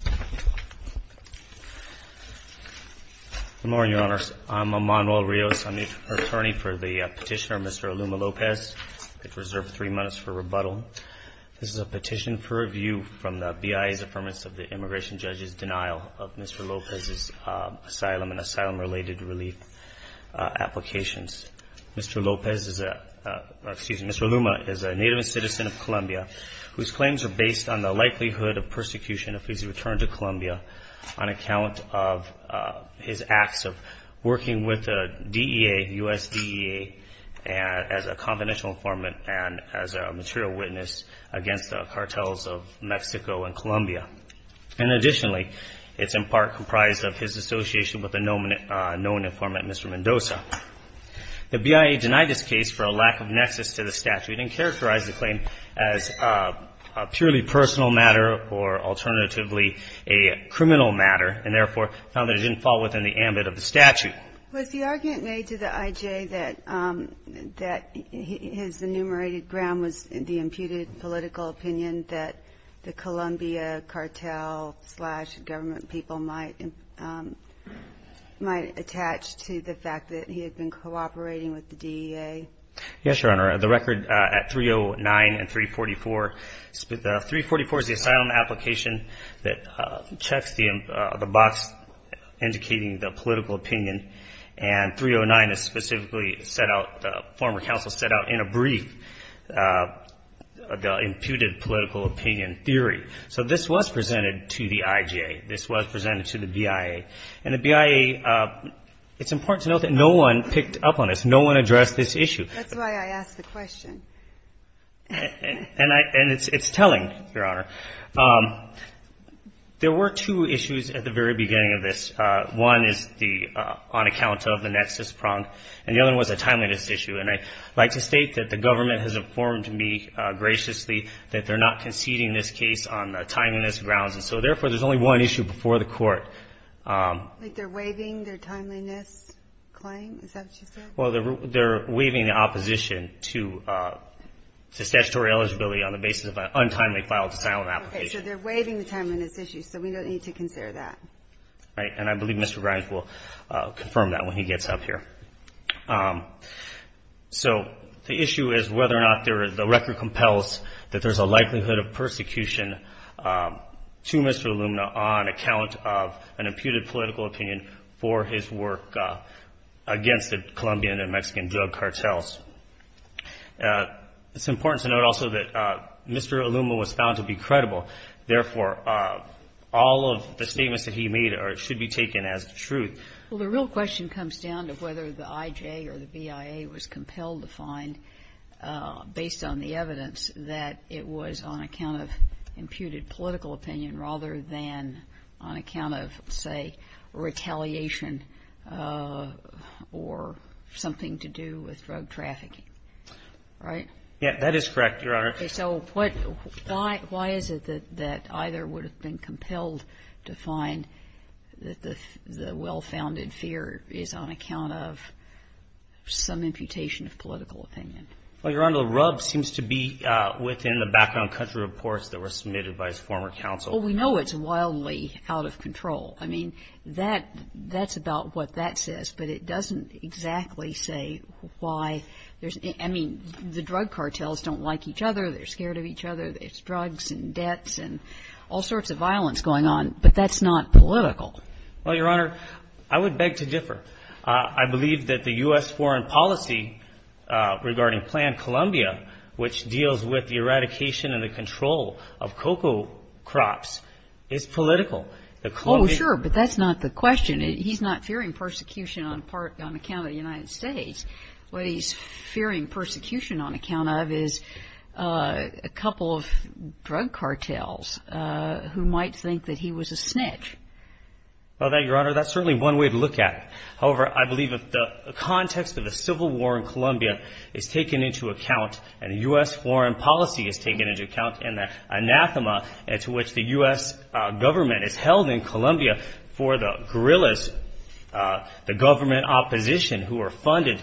Good morning, Your Honors. I'm Emanuel Rios. I'm the attorney for the petitioner, Mr. ALUMA-LOPEZ. I have reserved three minutes for rebuttal. This is a petition for review from the BIA's affirmation of the immigration judge's denial of Mr. Lopez's asylum and asylum-related relief applications. Mr. Lopez is a, excuse me, Mr. ALUMA is a native citizen of Colombia whose claims are based on the likelihood of persecution if he is returned to Colombia on account of his acts of working with the DEA, U.S. DEA, as a confidential informant and as a material witness against the cartels of Mexico and Colombia. And additionally, it's in part comprised of his association with the known informant, Mr. Mendoza. The argument made to the I.J. that his enumerated ground was the imputed political opinion that the Colombia cartel-slash-government people might attach to the fact that he had been cooperating with the DEA? ALUMA-LOPEZ Yes, Your Honor. The record at 309 and 310 states that Mr. Mendoza was a 344. The 344 is the asylum application that checks the box indicating the political opinion. And 309 is specifically set out, the former counsel set out in a brief, the imputed political opinion theory. So this was presented to the I.J. This was presented to the BIA. And the BIA, it's important to note that no one picked up on this. No one addressed this issue. That's why I asked the question. And it's telling, Your Honor. There were two issues at the very beginning of this. One is on account of the nexus prong, and the other was a timeliness issue. And I'd like to state that the government has informed me graciously that they're not conceding this case on timeliness grounds. And so therefore, there's only one issue before the court. Like they're waiving their timeliness claim? Is that what you said? Well, they're waiving the opposition to statutory eligibility on the basis of an untimely filed asylum application. Okay. So they're waiving the timeliness issue. So we don't need to consider that. Right. And I believe Mr. Grimes will confirm that when he gets up here. So the issue is whether or not the record compels that there's a likelihood of persecution to Mr. Illumina on account of an imputed political opinion for his work against the Colombian and Mexican drug cartels. It's important to note also that Mr. Illumina was found to be credible. Therefore, all of the statements that he made should be taken as the truth. Well, the real question comes down to whether the IJ or the BIA was compelled to find, based on the evidence, that it was on account of imputed political opinion rather than on account of, say, retaliation or something to do with drug trafficking. Right? Yeah. That is correct, Your Honor. Okay. So why is it that either would have been compelled to find that the well-founded fear is on account of some imputation of political opinion? Well, Your Honor, the rub seems to be within the background country reports that were submitted by his former counsel. Well, we know it's wildly out of control. I mean, that's about what that says. But it doesn't exactly say why. I mean, the drug cartels don't like each other. They're scared of each other. There's drugs and debts and all sorts of violence going on. But that's not political. Well, Your Honor, I would beg to differ. I believe that the U.S. foreign policy regarding Plan Colombia, which deals with the eradication and the control of cocoa crops, is political. Oh, sure. But that's not the question. He's not fearing persecution on part, on account of the United States. What he's fearing persecution on account of is a couple of drug cartels who might think that he was a snitch. Well, Your Honor, that's certainly one way to look at it. However, I believe that the context of the civil war in Colombia is taken into account, and the U.S. foreign policy is taken into account, and the anathema to which the U.S. government is held in Colombia for the guerrillas, the government opposition who are funded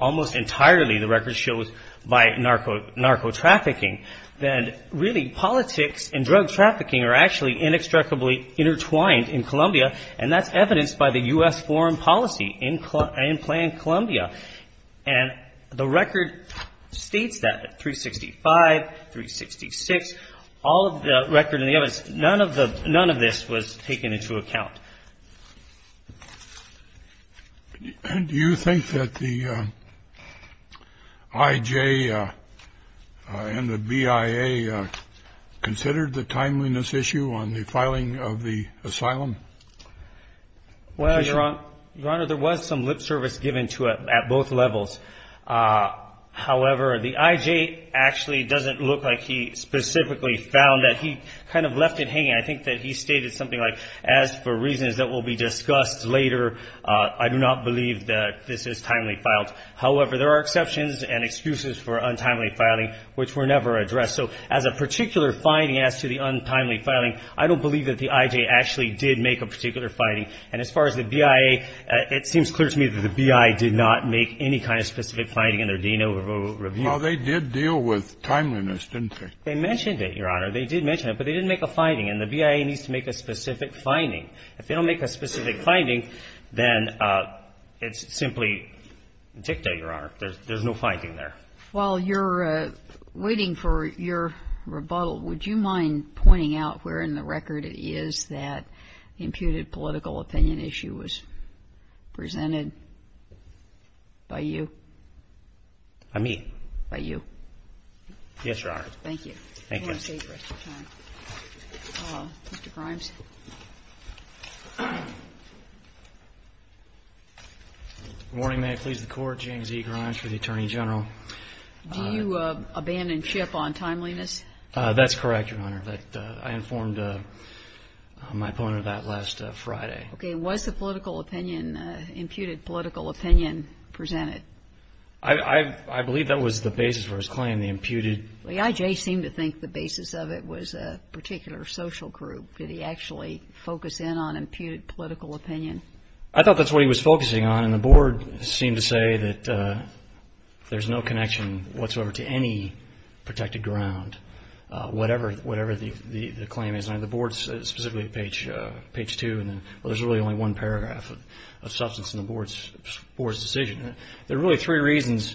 almost entirely, the record shows, by narco-trafficking. Then, really, politics and drug trafficking are actually inextricably intertwined in Colombia, and that's evidenced by the U.S. foreign policy in Plan Colombia. And the record states that, at 365, 366, all of the record and the evidence, none of this was taken into account. Do you think that the I.J. and the B.I.A. considered the timeliness issue on the filing of the asylum? Well, Your Honor, there was some lip service given to it at both levels. However, the I.J. actually doesn't look like he specifically found that. He kind of left it hanging. I think that he stated something like, as for reasons that will be discussed later, I do not believe that this is timely filed. However, there are exceptions and excuses for untimely filing which were never addressed. So as a particular finding as to the untimely filing, I don't believe that the I.J. actually did make a particular finding. And as far as the B.I.A., it seems clear to me that the B.I.A. did not make any kind of specific finding in their Deno review. Well, they did deal with timeliness, didn't they? They mentioned it, Your Honor. They did mention it. But they didn't make a finding. And the B.I.A. needs to make a specific finding. If they don't make a specific finding, then it's simply dicta, Your Honor. There's no finding there. While you're waiting for your rebuttal, would you mind pointing out where in the record it is that the imputed political opinion issue was presented by you? By me? By you. Yes, Your Honor. Thank you. Thank you. I want to save the rest of the time. Mr. Grimes? Good morning. May I please the Court? James E. Grimes for the Attorney General. Do you abandon SHIP on timeliness? That's correct, Your Honor. I informed my opponent of that last Friday. Okay. Was the political opinion, imputed political opinion, presented? I believe that was the basis for his claim, the imputed. The I.J. seemed to think the basis of it was a particular social group. Did he actually focus in on imputed political opinion? I thought that's what he was focusing on. The board seemed to say that there's no connection whatsoever to any protected ground, whatever the claim is. The board specifically at page 2, there's really only one paragraph of substance in the board's decision. There are really three reasons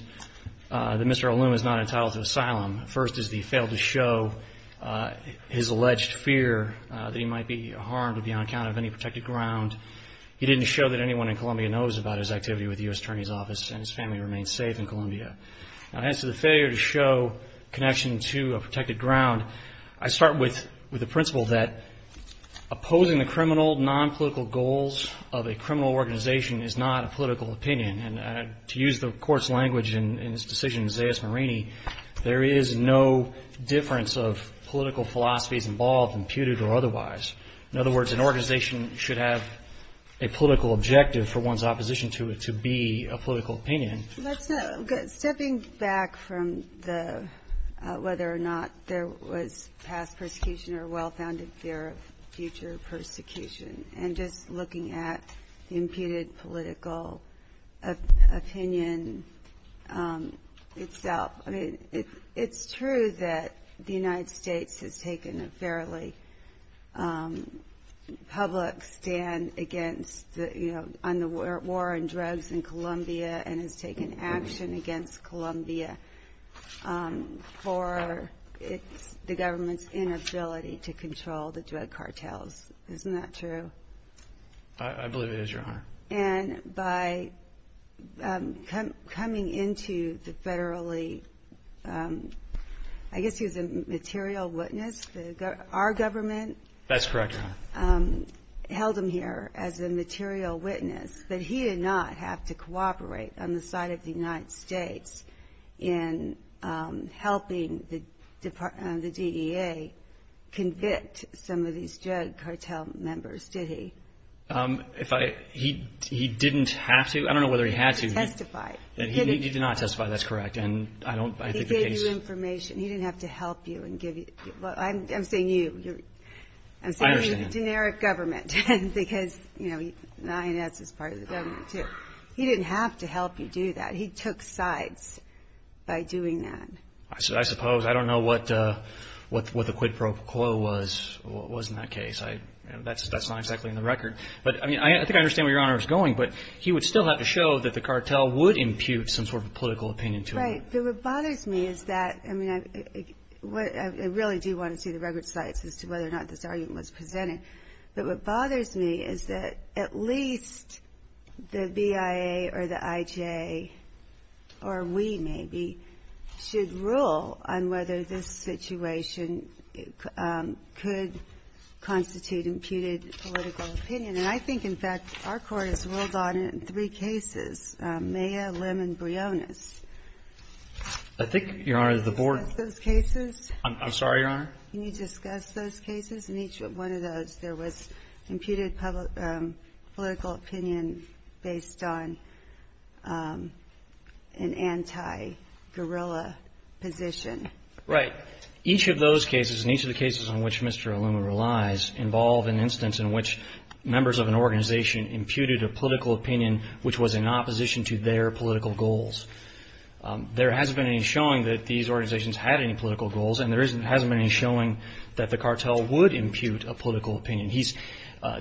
that Mr. Olum is not entitled to asylum. First is that he failed to show his alleged fear that he might be harmed or be on account of any protected ground. He didn't show that anyone in Columbia knows about his activity with the U.S. Attorney's Office and his family remains safe in Columbia. Now, as to the failure to show connection to a protected ground, I start with the principle that opposing the criminal, nonpolitical goals of a criminal organization is not a political opinion. And to use the Court's language in this decision, Isaiah Smirini, there is no difference of political philosophies involved, imputed or otherwise. In other words, an organization should have a political objective for one's opposition to it to be a political opinion. Stepping back from whether or not there was past persecution or well-founded fear of future persecution and just looking at the imputed political opinion itself, it's true that the United States has taken a fairly public stand on the war on drugs in Columbia and has taken action against Columbia for the government's inability to control the drug cartels. Isn't that true? And by coming into the federally, I guess he was a material witness. Our government held him here as a material witness, but he did not have to cooperate on the side of the United States in helping the DEA convict some of these drug cartel members, did he? He didn't have to. I don't know whether he had to. He didn't have to testify. He did not testify. That's correct. He gave you information. He didn't have to help you. I'm saying you. I'm saying the generic government because the INS is part of the government too. He didn't have to help you do that. He took sides by doing that. I suppose. I don't know what the quid pro quo was in that case. That's not exactly in the record. But I think I understand where Your Honor is going, but he would still have to show that the cartel would impute some sort of political opinion to him. Right. But what bothers me is that I really do want to see the record slides as to whether or not this argument was presented. But what bothers me is that at least the BIA or the IJ, or we maybe, should rule on whether this situation could constitute imputed political opinion. And I think, in fact, our court has ruled on it in three cases, Maya, Lim, and Briones. I think, Your Honor, the board. Can you discuss those cases? I'm sorry, Your Honor? Can you discuss those cases? In each one of those, there was imputed political opinion based on an anti-guerrilla position. Right. Each of those cases, and each of the cases on which Mr. Aluma relies, involve an instance in which members of an organization imputed a political opinion which was in opposition to their political goals. There hasn't been any showing that these organizations had any political goals, and there hasn't been any showing that the cartel would impute a political opinion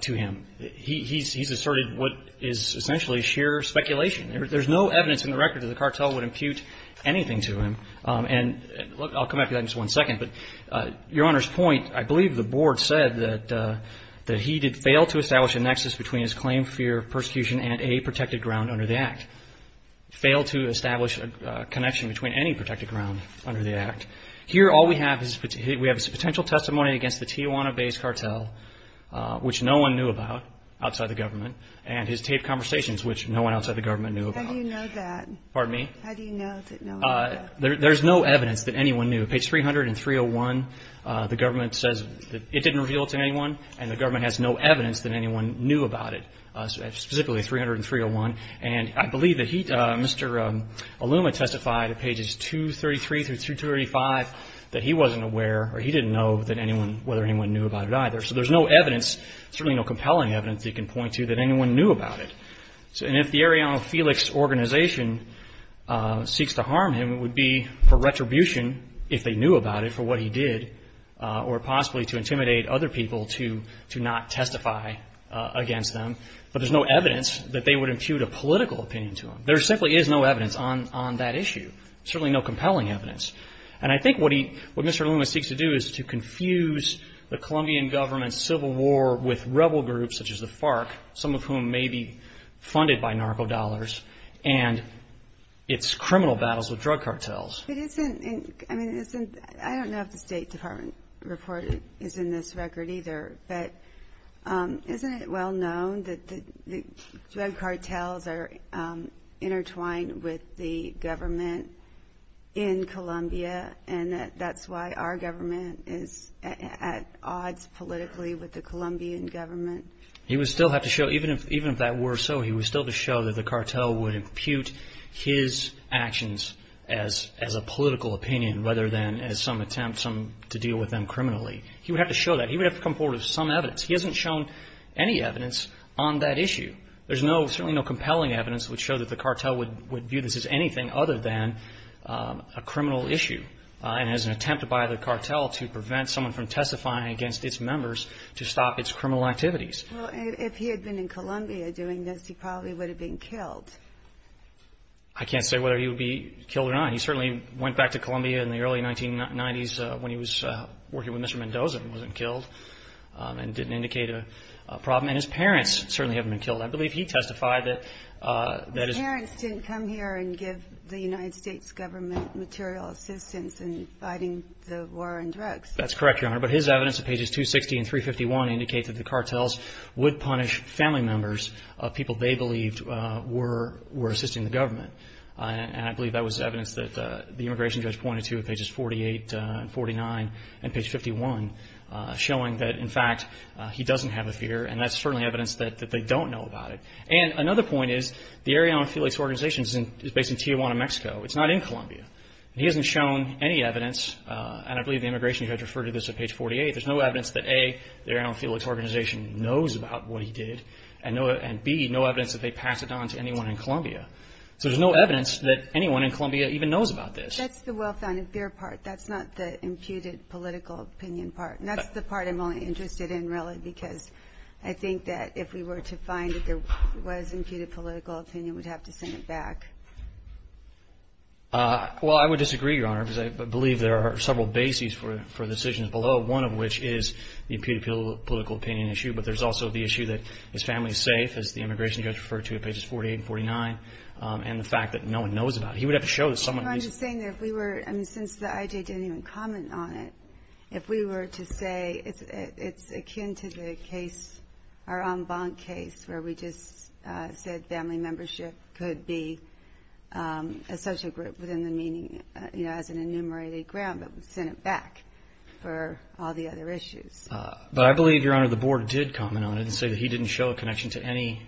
to him. He's asserted what is essentially sheer speculation. There's no evidence in the record that the cartel would impute anything to him. And I'll come back to that in just one second. But Your Honor's point, I believe the board said that he did fail to establish a nexus between his claim, fear of persecution, and a protected ground under the Act. Here, all we have is a potential testimony against the Tijuana-based cartel, which no one knew about outside the government, and his taped conversations, which no one outside the government knew about. How do you know that? Pardon me? How do you know that no one knew that? There's no evidence that anyone knew. Page 30301, the government says that it didn't reveal it to anyone, and the government has no evidence that anyone knew about it, specifically 30301. And I believe that he, Mr. Aluma, testified at pages 233 through 235 that he wasn't aware or he didn't know that anyone, whether anyone knew about it either. So there's no evidence, certainly no compelling evidence he can point to that anyone knew about it. And if the Arellano Felix organization seeks to harm him, it would be for retribution, if they knew about it, for what he did, or possibly to intimidate other people to not testify against them. But there's no evidence that they would impute a political opinion to him. There simply is no evidence on that issue, certainly no compelling evidence. And I think what he, what Mr. Aluma seeks to do is to confuse the Colombian government's civil war with rebel groups such as the FARC, some of whom may be funded by narco dollars, and its criminal battles with drug cartels. But isn't, I mean, isn't, I don't know if the State Department report is in this record either, but isn't it well known that the drug cartels are intertwined with the government in Colombia and that that's why our government is at odds politically with the Colombian government? He would still have to show, even if that were so, he would still have to show that the cartel would impute his actions as a political opinion, rather than as some attempt to deal with them criminally. He would have to show that. He would have to come forward with some evidence. He hasn't shown any evidence on that issue. There's certainly no compelling evidence that would show that the cartel would view this as anything other than a criminal issue and as an attempt by the cartel to prevent someone from testifying against its members to stop its criminal activities. Well, if he had been in Colombia doing this, he probably would have been killed. I can't say whether he would be killed or not. He certainly went back to Colombia in the early 1990s when he was working with Mr. Mendoza and wasn't killed and didn't indicate a problem. And his parents certainly haven't been killed. I believe he testified that his parents didn't come here and give the United States government material assistance in fighting the war on drugs. That's correct, Your Honor. But his evidence at pages 260 and 351 indicates that the cartels would punish family members of people they believed were assisting the government. And I believe that was evidence that the immigration judge pointed to at pages 48 and 49 and page 51, showing that, in fact, he doesn't have a fear. And that's certainly evidence that they don't know about it. And another point is the Ariana Felix Organization is based in Tijuana, Mexico. It's not in Colombia. He hasn't shown any evidence, and I believe the immigration judge referred to this at page 48. There's no evidence that, A, the Ariana Felix Organization knows about what he did, So there's no evidence that anyone in Colombia even knows about this. That's the well-founded fear part. That's not the imputed political opinion part. And that's the part I'm only interested in, really, because I think that if we were to find that there was imputed political opinion, we'd have to send it back. Well, I would disagree, Your Honor, because I believe there are several bases for decisions below, one of which is the imputed political opinion issue, but there's also the issue that his family is safe, as the immigration judge referred to at pages 48 and 49, and the fact that no one knows about it. He would have to show that someone knew. I'm just saying that if we were to say, since the IJ didn't even comment on it, if we were to say it's akin to the case, our en banc case, where we just said family membership could be a social group within the meaning, you know, as an enumerated ground, but we'd send it back for all the other issues. But I believe, Your Honor, the board did comment on it and say that he didn't show a connection to any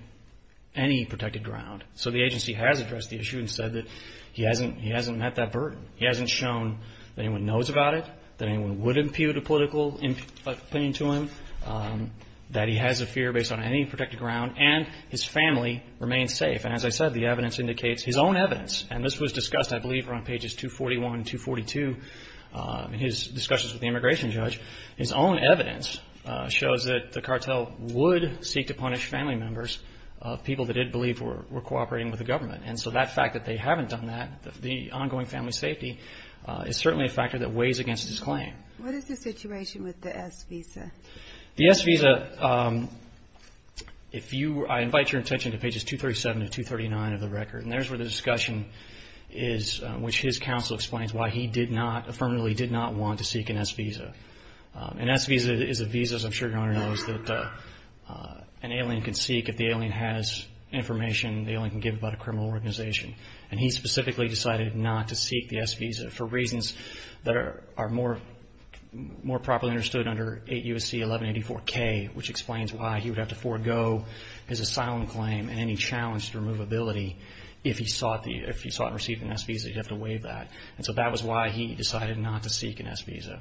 protected ground. So the agency has addressed the issue and said that he hasn't met that burden. He hasn't shown that anyone knows about it, that anyone would impute a political opinion to him, that he has a fear based on any protected ground, and his family remains safe. And as I said, the evidence indicates, his own evidence, and this was discussed, I believe, around pages 241 and 242 in his discussions with the immigration judge, his own evidence shows that the cartel would seek to punish family members of people that it believed were cooperating with the government. And so that fact that they haven't done that, the ongoing family safety, is certainly a factor that weighs against his claim. What is the situation with the S visa? The S visa, if you, I invite your attention to pages 237 and 239 of the record, and there's where the discussion is, which his counsel explains why he did not, affirmatively did not want to seek an S visa. An S visa is a visa, as I'm sure your Honor knows, that an alien can seek if the alien has information the alien can give about a criminal organization. And he specifically decided not to seek the S visa for reasons that are more properly understood under 8 U.S.C. 1184-K, which explains why he would have to forego his asylum claim and any challenge to removability if he sought and received an S visa. You'd have to weigh that. And so that was why he decided not to seek an S visa.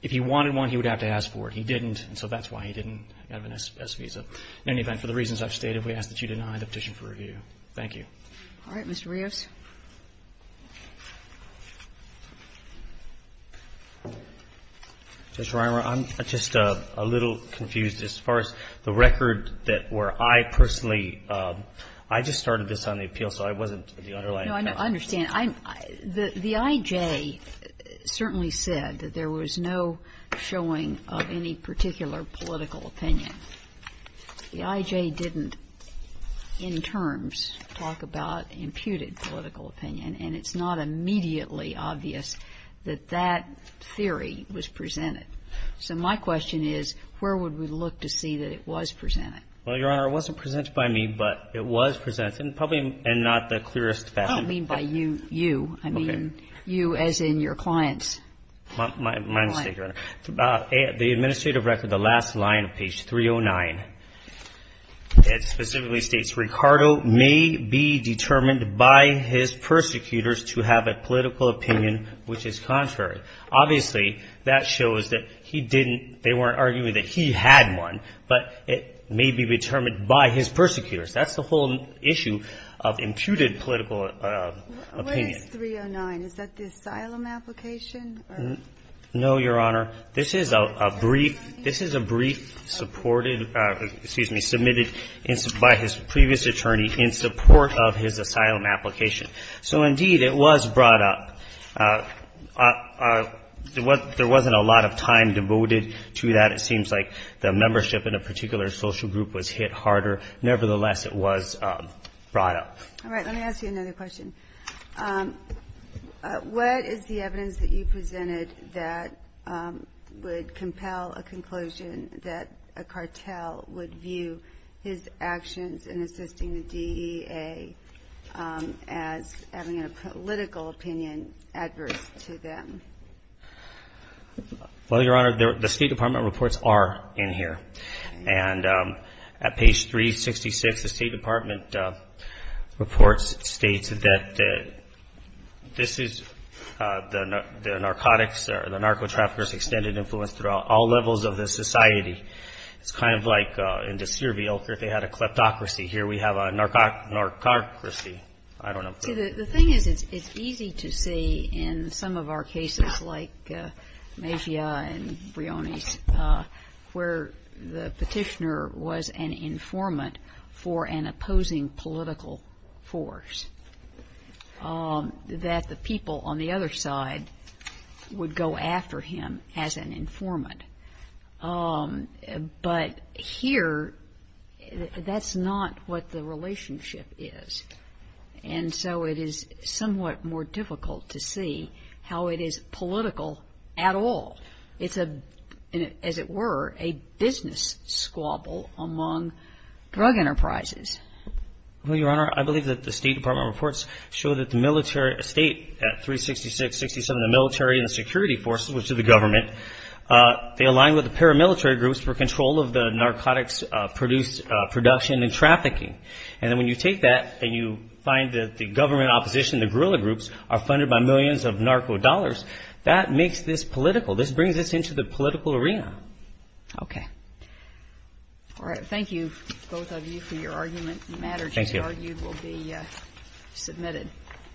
If he wanted one, he would have to ask for it. He didn't, and so that's why he didn't have an S visa. In any event, for the reasons I've stated, we ask that you deny the petition for review. Thank you. All right, Mr. Rios. Judge Reimer, I'm just a little confused. As far as the record that where I personally – I just started this on the appeal, so I wasn't the underlying question. No, I understand. The IJ certainly said that there was no showing of any particular political opinion. The IJ didn't in terms talk about imputed political opinion, and it's not immediately obvious that that theory was presented. So my question is, where would we look to see that it was presented? Well, Your Honor, it wasn't presented by me, but it was presented, and probably in not the clearest fashion. I don't mean by you. You. Okay. I mean you as in your clients. My mistake, Your Honor. The administrative record, the last line of page 309, it specifically states, Ricardo may be determined by his persecutors to have a political opinion which is contrary. Obviously, that shows that he didn't – they weren't arguing that he had one, but it may be determined by his persecutors. That's the whole issue of imputed political opinion. What is 309? Is that the asylum application? No, Your Honor. This is a brief – this is a brief supported – excuse me, submitted by his previous attorney in support of his asylum application. So, indeed, it was brought up. There wasn't a lot of time devoted to that. It seems like the membership in a particular social group was hit harder. Nevertheless, it was brought up. All right. Let me ask you another question. What is the evidence that you presented that would compel a conclusion that a cartel would view his actions in assisting the DEA as having a political opinion adverse to them? Well, Your Honor, the State Department reports are in here. And at page 366, the State Department reports states that this is the narcotics or the narco-traffickers extended influence throughout all levels of the society. It's kind of like in Disturbia if they had a kleptocracy. Here we have a narcocracy. I don't know. See, the thing is it's easy to see in some of our cases like Mejia and Brioni's where the Petitioner was an informant for an opposing political force, that the people on the other side would go after him as an informant. But here, that's not what the relationship is. And so it is somewhat more difficult to see how it is political at all. It's a, as it were, a business squabble among drug enterprises. Well, Your Honor, I believe that the State Department reports show that the military, at 366, 367, the military and the security forces, which are the government, they align with the paramilitary groups for control of the narcotics production and trafficking. And then when you take that and you find that the government opposition, the guerrilla groups, are funded by millions of narco dollars, that makes this political. This brings us into the political arena. Okay. All right. Thank you, both of you, for your argument. The matter, as you argued, will be submitted. Thank you.